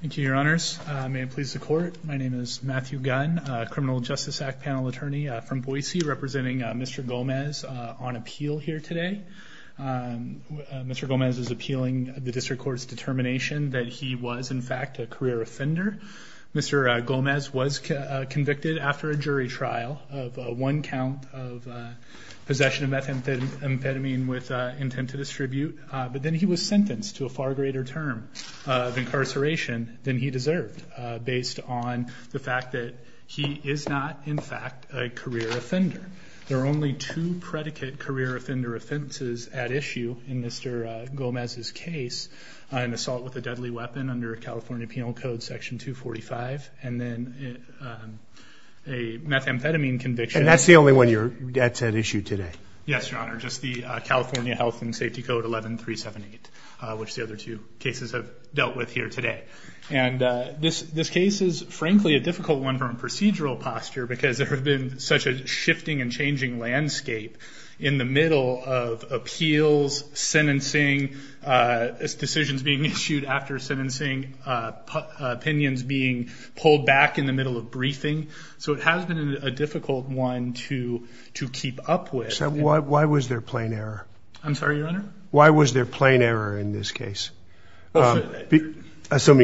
Thank you, your honors. May it please the court, my name is Matthew Gunn, criminal justice act panel attorney from Boise representing Mr. Gomez on appeal here today. Mr. Gomez is appealing the district court's determination that he was in fact a career offender. Mr. Gomez was convicted after a jury trial of one count of possession of methamphetamine with intent to distribute, but then he was sentenced to a far greater term of incarceration than he deserved based on the fact that he is not in fact a career offender. There are only two predicate career offender offenses at issue in Mr. Gomez's case, an assault with a deadly weapon under California Penal Code section 245 and then a methamphetamine conviction. And that's the only one that's at issue today? Yes, your honor, just the California Health and Safety Code 11378, which the other two cases have dealt with here today. And this case is frankly a difficult one from a procedural posture because there have been such a shifting and changing landscape in the middle of appeals, sentencing, decisions being issued after sentencing, opinions being pulled back in the middle of to keep up with. Why was there plain error? I'm sorry, your honor? Why was there plain error in this case? Assuming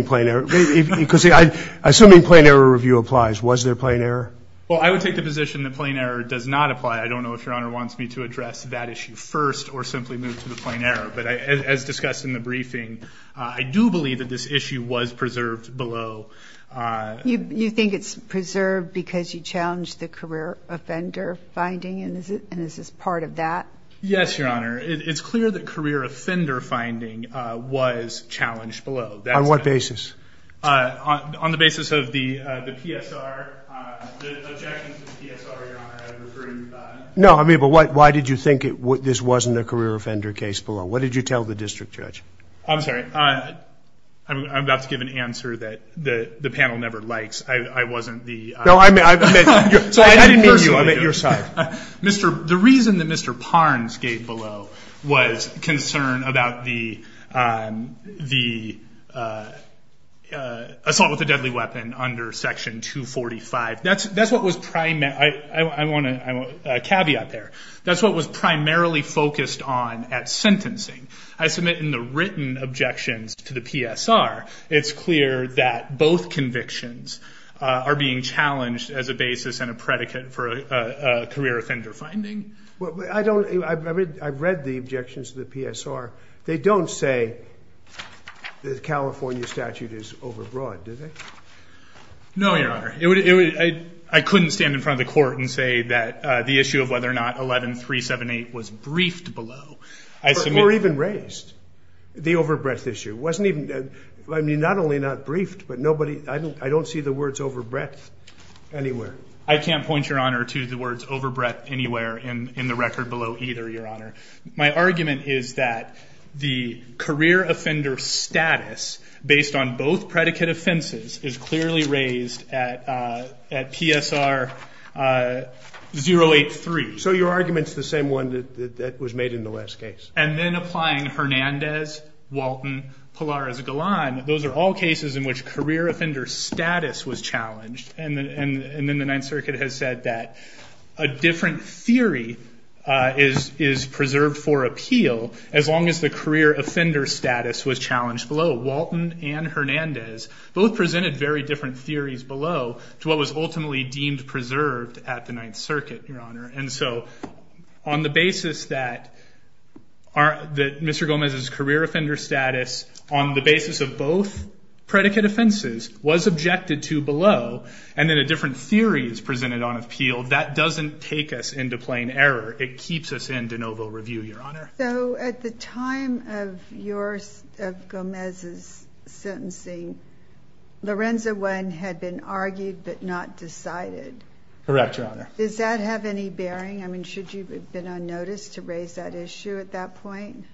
plain error review applies, was there plain error? Well, I would take the position that plain error does not apply. I don't know if your honor wants me to address that issue first or simply move to the plain error. But as discussed in the briefing, I do believe that this issue was preserved below. You think it's preserved because you challenged the career offender finding? And is this part of that? Yes, your honor. It's clear that career offender finding was challenged below. On what basis? On the basis of the PSR. The objections to the PSR, your honor, I would refer you to that. No, I mean, but why did you think this wasn't a career offender case below? What did you tell the district judge? I'm sorry. I'm about to give an answer that the panel never likes. I wasn't the... No, I meant... I didn't mean you, I meant your side. The reason that Mr. Parnes gave below was concern about the assault with a deadly weapon under section 245. That's what was primarily... I want a caveat there. That's what was primarily focused on at sentencing. I submit in the written objections to the PSR, it's clear that both convictions are being challenged as a basis and a predicate for a career offender finding. Well, I don't... I've read the objections to the PSR. They don't say the California statute is overbroad, do they? No, your honor. I couldn't stand in front of the court and say that the issue of whether or not 11378 was briefed below or even raised. The overbreadth issue wasn't even... I mean, not only not briefed, but nobody... I don't see the words overbreadth anywhere. I can't point your honor to the words overbreadth anywhere in the record below either, your honor. My argument is that the career offender status based on both predicate offenses is clearly raised at PSR 083. So your argument's the same one that was made in the last case. And then applying Hernandez, Walton, Pilares-Golan. Those are all cases in which career offender status was challenged. And then the Ninth Circuit has said that a different theory is preserved for appeal as long as the career offender status was challenged below. Walton and Hernandez both presented very different theories below to what was ultimately deemed preserved at the Ninth Circuit, your honor. And so on the basis that Mr. Gomez's career offender status on the basis of both predicate offenses was objected to below, and then a different theory is presented on appeal, that doesn't take us into plain error. It keeps us in de novo review, your honor. So at the time of Gomez's sentencing, Lorenza 1 had been argued but not decided. Correct, your honor. Does that have any bearing? I mean, should you have been unnoticed to raise that issue at that point?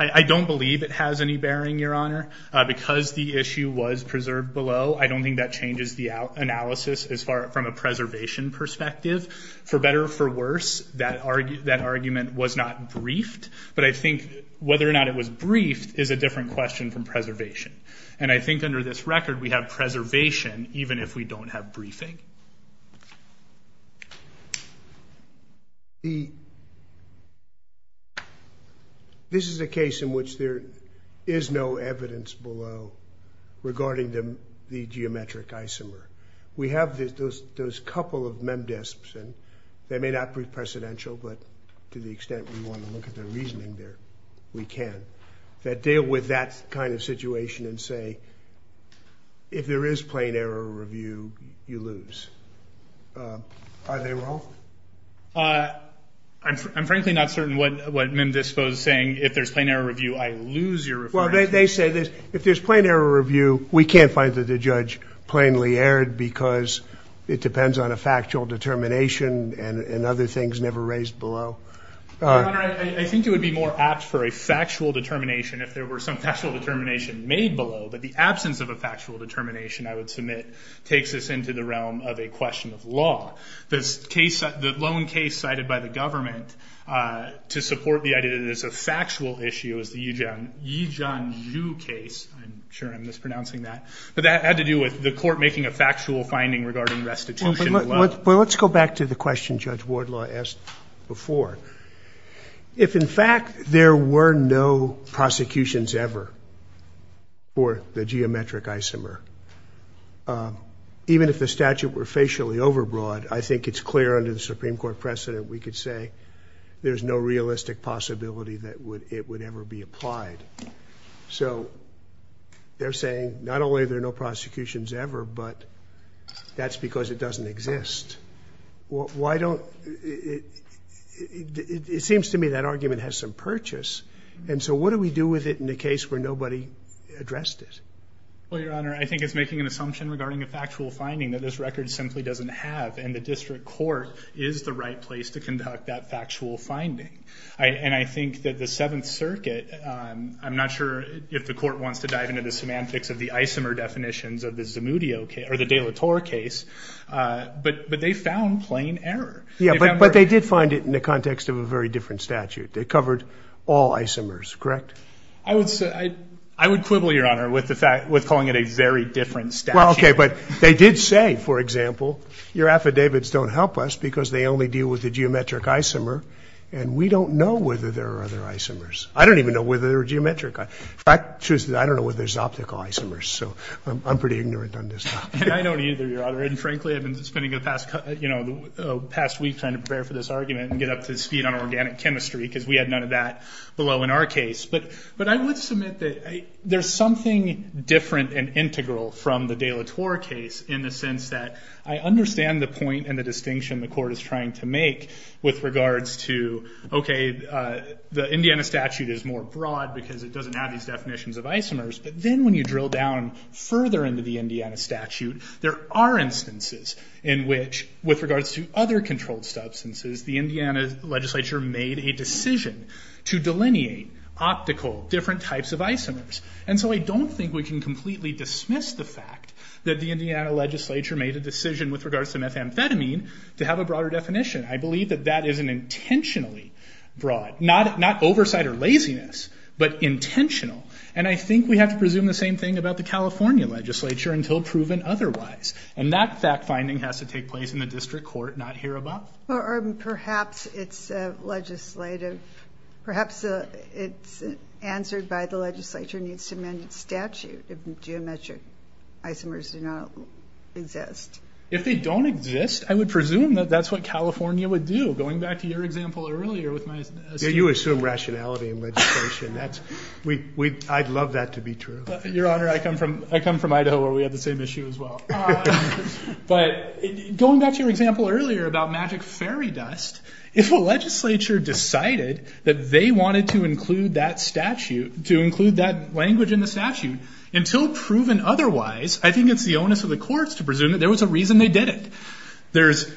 I don't believe it has any bearing, your honor. Because the issue was preserved below, I don't think that changes the analysis as far from a preservation perspective. For better or for worse, that argument was not briefed. But I think whether or not it was briefed is a different question from preservation. And I think under this record, we have preservation even if we don't have briefing. This is a case in which there is no evidence below regarding the geometric isomer. We have those couple of memdisps, and they may not be precedential, but to the extent we want to look at their reasoning, we can, that deal with that kind of situation and say, if there is plain error review, you lose. Are they wrong? I'm frankly not certain what memdispo is saying. If there's plain error review, I lose your reference. Well, they say this. If there's plain error review, we can't find that the judge plainly erred because it depends on a factual determination and other things never raised below. Your honor, I think it would be more apt for a factual determination if there were some factual determination made below. But the absence of a factual determination, I would submit, takes us into the realm of a question of law. The lone case cited by the government to support the idea that it is a factual issue is the Yijian Zhu case. I'm sure I'm mispronouncing that. But that had to do with the court making a factual finding regarding restitution below. Well, let's go back to the question Judge Wardlaw asked before. If, in fact, there were no prosecutions ever for the geometric isomer, even if the statute were facially overbroad, I think it's clear under the Supreme Court precedent we could say there's no realistic possibility that it would ever be applied. So they're saying not only are there no prosecutions ever, but that's because it doesn't exist. It seems to me that argument has some purchase. And so what do we do with it in the case where nobody addressed it? Well, your honor, I think it's making an assumption regarding a factual finding that this record simply doesn't have. And the district court is the right place to conduct that factual finding. And I think that the Seventh Circuit, I'm not sure if the court wants to dive into the semantics of the isomer definitions of the Zamudio case, or the de la Torre case, but they found plain error. But they did find it in the context of a very different statute. They covered all isomers, correct? I would quibble, your honor, with calling it a very different statute. Well, okay. But they did say, for example, your affidavits don't help us because they only deal with the geometric isomer, and we don't know whether there are other isomers. I don't even know whether there are geometric isomers. In fact, I don't know whether there's optical isomers. So I'm pretty ignorant on this topic. I don't either, your honor. And frankly, I've been spending the past week trying to prepare for this argument and get up to speed on organic chemistry, because we had none of that below in our case. But I would submit that there's something different and integral from the de la Torre case in the sense that I understand the point and the distinction the court is trying to make with regards to, okay, the Indiana statute is more broad because it doesn't have these definitions of isomers. But then when you drill down further into the Indiana statute, there are instances in which, with regards to other controlled substances, the Indiana legislature made a decision to delineate optical different types of isomers. And so I don't think we can completely dismiss the fact that the Indiana legislature made a decision with regards to methamphetamine to have a broader definition. I believe that that is an intentionally broad, not oversight or laziness, but intentional. And I think we have to presume the same thing about the California legislature until proven otherwise. And that fact-finding has to take place in the district court, not here above. Perhaps it's legislative. Perhaps it's answered by the legislature needs to amend its statute if geometric isomers do not exist. If they don't exist, I would presume that that's what California would do. Going back to your example earlier with my... You assume rationality in legislation. I'd love that to be true. Your Honor, I come from Idaho where we have the same issue as well. But going back to your example earlier about magic fairy dust, if a legislature decided that they wanted to include that language in the statute until proven otherwise, I think it's the onus of the courts to presume that there was a reason they did it. There's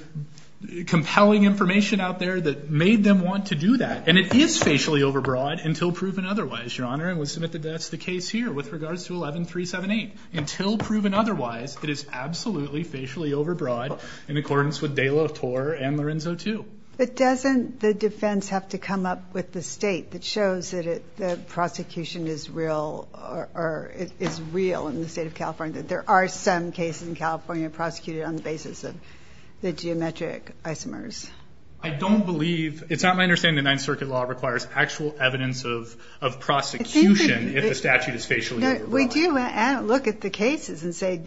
compelling information out there that made them want to do that. And it is facially overbroad until proven otherwise, Your Honor. And we'll submit that that's the case here with regards to 11378. Until proven otherwise, it is absolutely facially overbroad in accordance with De La Torre and Lorenzo too. But doesn't the defense have to come up with the state that shows that the prosecution is real or is real in the state of California, that there are some cases in California prosecuted on the basis of the geometric isomers? I don't believe... It's not my understanding that Ninth Circuit law requires actual evidence of prosecution if the statute is facially overbroad. We do look at the cases and say,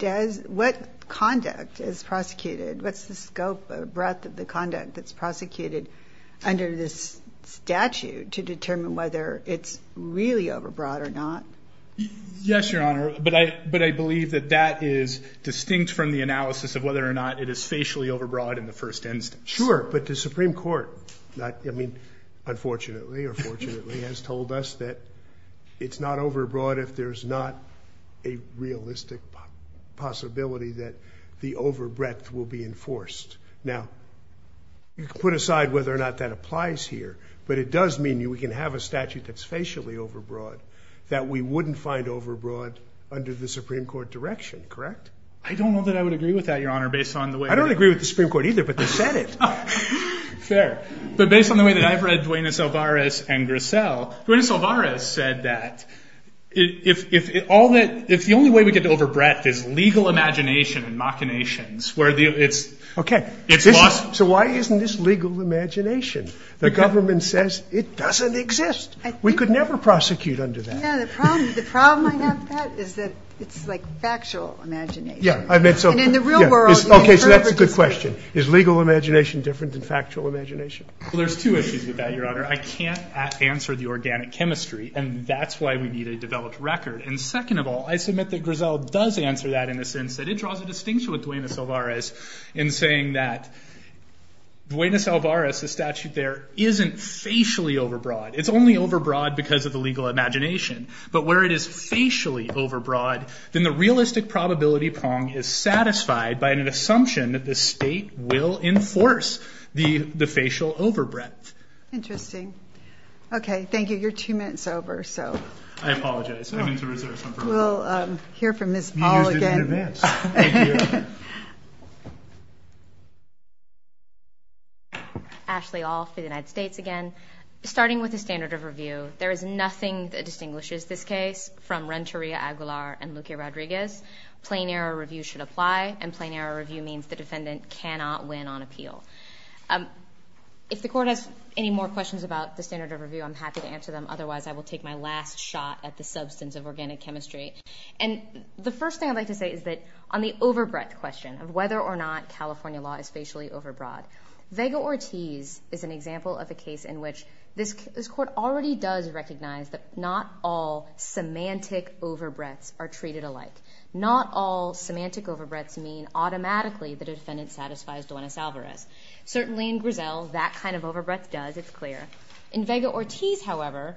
what conduct is prosecuted? What's the scope or breadth of the conduct that's prosecuted under this statute to determine whether it's really overbroad or not? Yes, Your Honor. But I believe that that is distinct from the analysis of whether or not it is facially overbroad in the first instance. Sure. But the Supreme Court, unfortunately or fortunately, has told us that it's not overbroad if there's not a realistic possibility that the overbreadth will be enforced. Now, you can put aside whether or not that applies here, but it does mean we can have a statute that's facially overbroad that we wouldn't find overbroad under the Supreme Court direction, correct? I don't know that I would agree with that, Your Honor, based on the way... I don't agree with the Supreme Court either, but they said it. Fair. But based on the way that I've read Duenas-Alvarez and Grissel, Duenas-Alvarez said that if the only way we get to overbreadth is legal imagination and machinations where it's lost... So why isn't this legal imagination? The government says it doesn't exist. We could never prosecute under that. No, the problem I have with that is that it's like factual imagination. Yeah, I meant so... And in the real world... Okay, so that's a good question. Is legal imagination different than factual imagination? Well, there's two issues with that, Your Honor. I can't answer the organic chemistry and that's why we need a developed record. And second of all, I submit that Grissel does answer that in the sense that it draws a distinction with Duenas-Alvarez in saying that Duenas-Alvarez, the statute there, isn't facially overbroad. It's only overbroad because of the legal imagination. But where it is facially overbroad, then the realistic probability prong is satisfied by an assumption that the state will enforce the facial overbreadth. Interesting. Okay, thank you. You're two minutes over, so... I apologize. I'm into reserves. I'm from... We'll hear from Ms. All again. You used it in advance. Thank you. Ashley All for the United States again. Starting with the standard of review, there is nothing that distinguishes this case from Renteria-Aguilar and Luque-Rodriguez. Plain error review should apply and plain error review means the defendant cannot win on appeal. If the court has any more questions about the standard of review, I'm happy to answer them. Otherwise, I will take my last shot at the substance of organic chemistry. The first thing I'd like to say is that on the overbreadth question of whether or not California law is facially overbroad, Vega-Ortiz is an example of a case in which this court already does recognize that not all semantic overbreadths are treated alike. Not all semantic overbreadths mean automatically that a defendant satisfies Duenas-Alvarez. Certainly in Griselle, that kind of overbreadth does. It's clear. In Vega-Ortiz, however,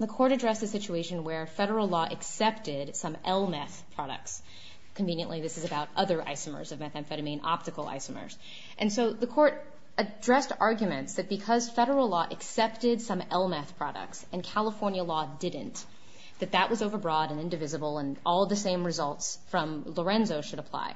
the court addressed a situation where federal law accepted some LMeth products. Conveniently, this is about other isomers of methamphetamine, optical isomers. And so the court addressed arguments that because federal law accepted some LMeth products and California law didn't, that that was overbroad and indivisible and all the same results from Lorenzo should apply.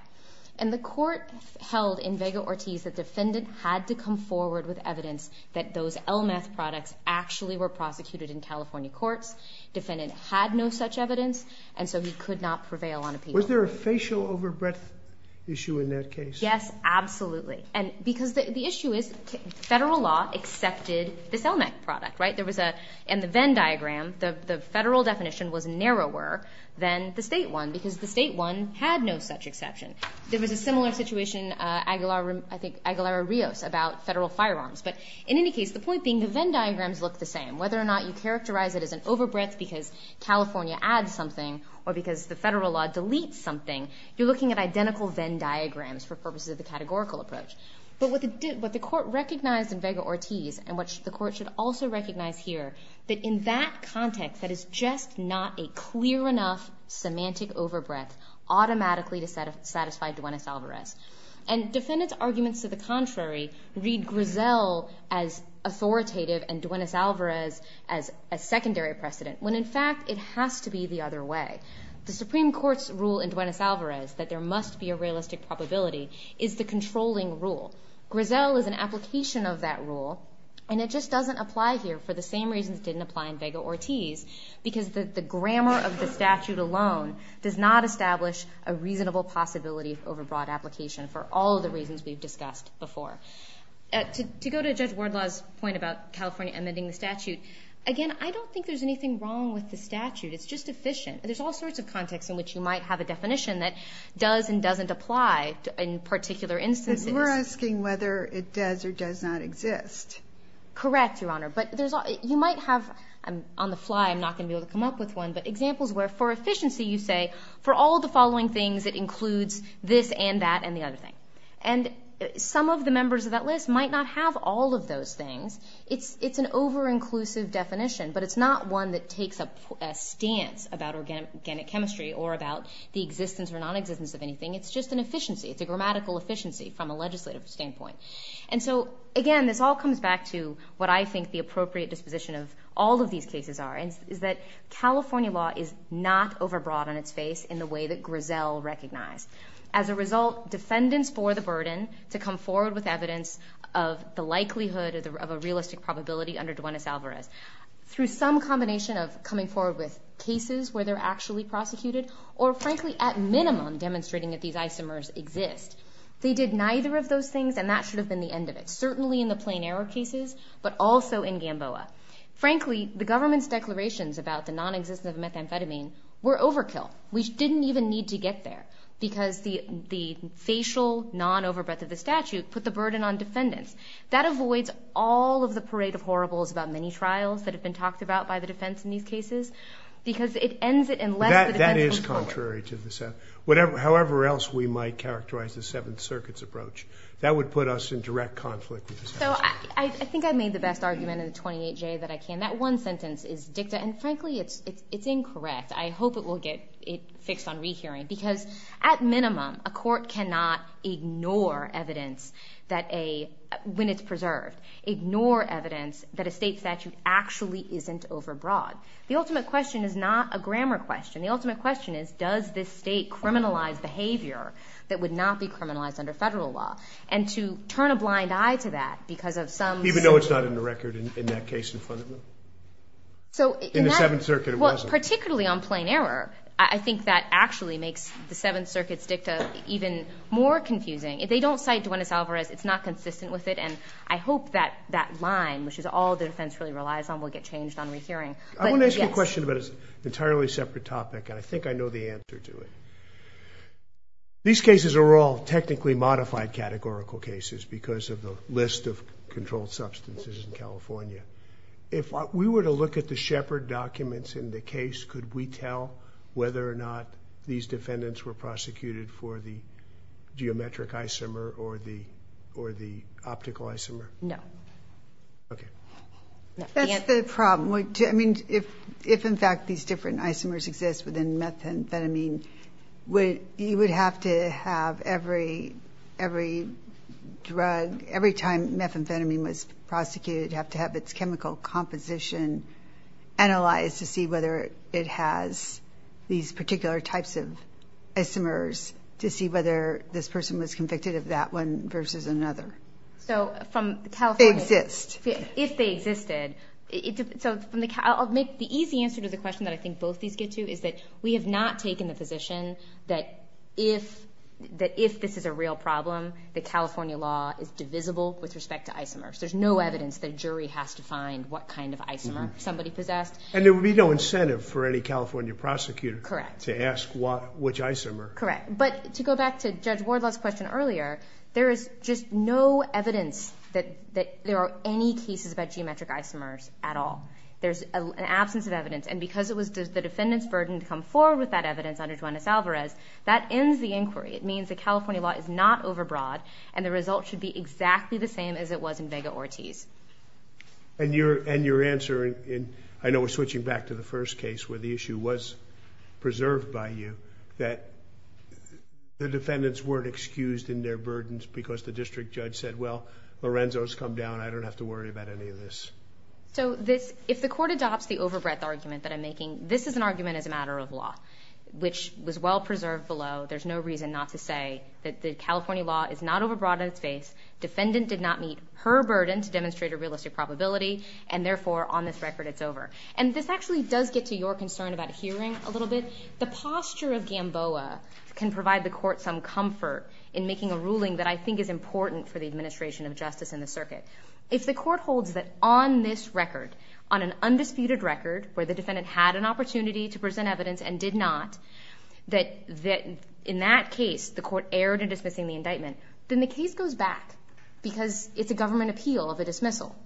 And the court held in Vega-Ortiz that defendant had to come forward with evidence that those LMeth products actually were prosecuted in California courts. Defendant had no such evidence and so he could not prevail on appeal. Was there a facial overbreadth issue in that case? Yes, absolutely. And because the issue is federal law accepted this LMeth product, right? There was a, in the Venn diagram, the federal definition was narrower than the state one because the state one had no such exception. There was a similar situation, Aguilar-Rios about federal firearms. But in any case, the point being the Venn diagrams look the same. Whether or not you characterize it as an overbreadth because California adds something or because the federal law deletes something, you're looking at identical Venn diagrams for purposes of the categorical approach. But what the court recognized in Vega-Ortiz and what the court should also recognize here, that in that context, that is just not a clear enough semantic overbreadth automatically to satisfy Duenes-Alvarez. And defendant's arguments to the contrary read Griselle as authoritative and Duenes-Alvarez as a secondary precedent when in fact it has to be the other way. The Supreme Court's rule in Duenes-Alvarez that there must be a realistic probability is the controlling rule. Griselle is an application of that rule and it just doesn't apply here for the same reasons it didn't apply in Vega-Ortiz. Because the grammar of the statute alone does not establish a reasonable possibility of overbroad application for all the reasons we've discussed before. To go to Judge Wardlaw's point about California amending the statute, again, I don't think there's anything wrong with the statute. It's just efficient. There's all sorts of contexts in which you might have a definition that does and doesn't apply in particular instances. But you're asking whether it does or does not exist. Correct, Your Honor. But you might have, on the fly I'm not going to be able to come up with one, but examples where for efficiency you say for all the following things it includes this and that and the other thing. And some of the members of that list might not have all of those things. It's an over-inclusive definition but it's not one that takes a stance about organic chemistry or about the existence or nonexistence of anything. It's just an efficiency. It's a grammatical efficiency from a legislative standpoint. And so, again, this all comes back to what I think the appropriate disposition of all of these cases are, is that California law is not overbroad on its face in the way that Grisell recognized. As a result, defendants bore the burden to come forward with evidence of the likelihood of a realistic probability under Duenes-Alvarez through some combination of coming forward with cases where they're actually prosecuted or frankly at minimum demonstrating that these isomers exist. They did neither of those things and that should have been the end of it, certainly in the Plain Arrow cases, but also in Gamboa. Frankly, the government's declarations about the nonexistence of methamphetamine were overkill. We didn't even need to get there because the facial non-overbreath of the statute put the burden on defendants. That avoids all of the parade of horribles about many trials that have been talked about by the defense in these cases because it ends it unless the defense comes out. However else we might characterize the Seventh Circuit's approach, that would put us in direct conflict with the statute. I think I made the best argument in the 28J that I can. That one sentence is dicta and frankly it's incorrect. I hope it will get fixed on re-hearing because at minimum a court cannot ignore evidence when it's preserved, ignore evidence that a state statute actually isn't overbroad. The ultimate question is not a grammar question. The ultimate question is does this state criminalize behavior that would not be criminalized under federal law? And to turn a blind eye to that because of some... Even though it's not in the record in that case in front of you? In the Seventh Circuit it wasn't. Particularly on Plain Arrow, I think that actually makes the Seventh Circuit's dicta even more confusing. If they don't cite Duenas-Alvarez, it's not consistent with it and I hope that that line, which is all the defense really relies on, will get changed on re-hearing. I want to ask you a question about an entirely separate topic and I think I know the answer to it. These cases are all technically modified categorical cases because of the list of controlled substances in California. If we were to look at the Shepard documents in the case, could we tell whether or not these defendants were prosecuted for the geometric isomer or the optical isomer? No. Okay. That's the problem. If in fact these different isomers exist within methamphetamine, you would have to have every drug, every time methamphetamine was prosecuted, have to have its chemical composition analyzed to see whether it has these particular types of isomers to see whether this person was convicted of that one versus another. So from California... Exists. If they existed. I'll make the easy answer to the question that I think both these get to is that we have not taken the position that if this is a real problem, that California law is divisible with respect to isomers. There's no evidence that a jury has to find what kind of isomer somebody possessed. And there would be no incentive for any California prosecutor to ask which isomer. Correct. But to go back to Judge Wardlaw's question earlier, there is just no evidence that there are any cases about geometric isomers at all. There's an absence of evidence. And because it was the defendant's burden to come forward with that evidence under Juanez-Alvarez, that ends the inquiry. It means that California law is not overbroad and the result should be exactly the same as it was in Vega-Ortiz. And your answer, and I know we're switching back to the first case where the issue was preserved by you, that the defendants weren't excused in their burdens because the district judge said, well, Lorenzo's come down. I don't have to worry about any of this. So this, if the court adopts the overbreadth argument that I'm making, this is an argument as a matter of law, which was well preserved below. There's no reason not to say that the California law is not overbroad in its base. Defendant did not meet her burden to demonstrate a realistic probability. And therefore, on this record, it's over. And this actually does get to your concern about hearing a little bit. The posture of in making a ruling that I think is important for the administration of justice in the circuit. If the court holds that on this record, on an undisputed record where the defendant had an opportunity to present evidence and did not, that in that case, the court erred in dismissing the indictment, then the case goes back because it's a government appeal of a dismissal.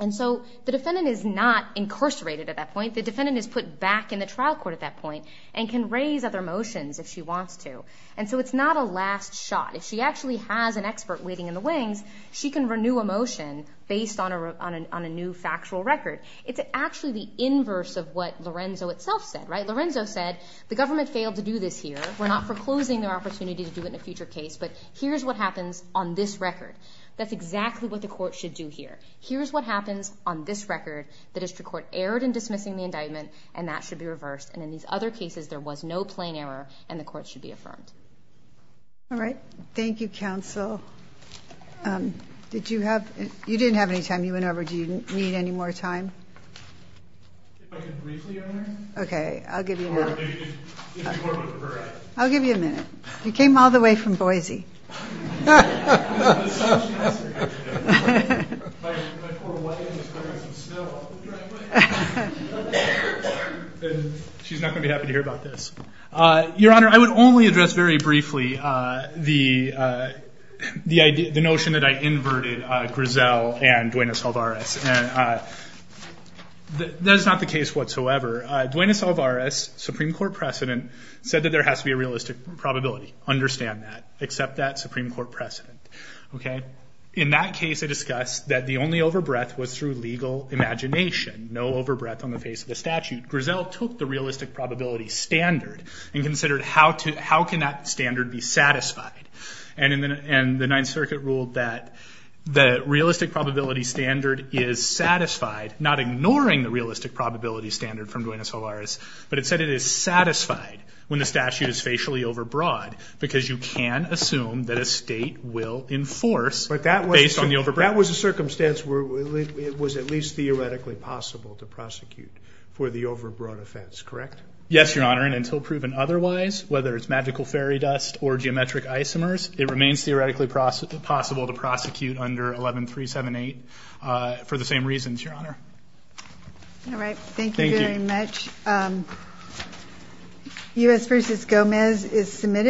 And so the defendant is not incarcerated at that point. The defendant is put back in the trial court at that point and can raise other motions if she wants to. And so it's not a last shot. If she actually has an expert waiting in the wings, she can renew a motion based on a new factual record. It's actually the inverse of what Lorenzo itself said. Lorenzo said, the government failed to do this here. We're not foreclosing their opportunity to do it in a future case, but here's what happens on this record. That's exactly what the court should do here. Here's what happens on this record. The district court erred in dismissing the indictment, and that should be reversed. And in these other cases, there was no plain error, and the court should be affirmed. All right. Thank you, counsel. Did you have, you didn't have any time. You went over. Do you need any more time? If I could briefly, Your Honor. Okay. I'll give you a minute. Or if you want me to correct. I'll give you a minute. You came all the way from Boise. My poor wife is going to get some snow off of her anyway. She's not going to be happy to hear about this. Your Honor, I would only address very briefly the notion that I inverted Griselle and Duenas Alvarez. That is not the case whatsoever. Duenas Alvarez, Supreme Court precedent, said that there has to be a realistic probability. Understand that. Accept that Supreme Court precedent. Okay. In that case, I discussed that the only overbreath was through legal imagination. No overbreath on the face of the statute. Griselle took the realistic probability standard and considered how can that standard be satisfied. And the Ninth Circuit ruled that the realistic probability standard is satisfied, not ignoring the realistic probability standard from Duenas Alvarez, but it said it is satisfied when the statute is facially overbroad because you can assume that a state will enforce based on the overbreath. That was a circumstance where it was at least theoretically possible to prosecute for the overbroad offense, correct? Yes, Your Honor. And until proven otherwise, whether it's magical fairy dust or geometric isomers, it remains theoretically possible to prosecute under 11378 for the same reasons, Your Honor. All right. Thank you very much. U.S. v. Gomez is submitted.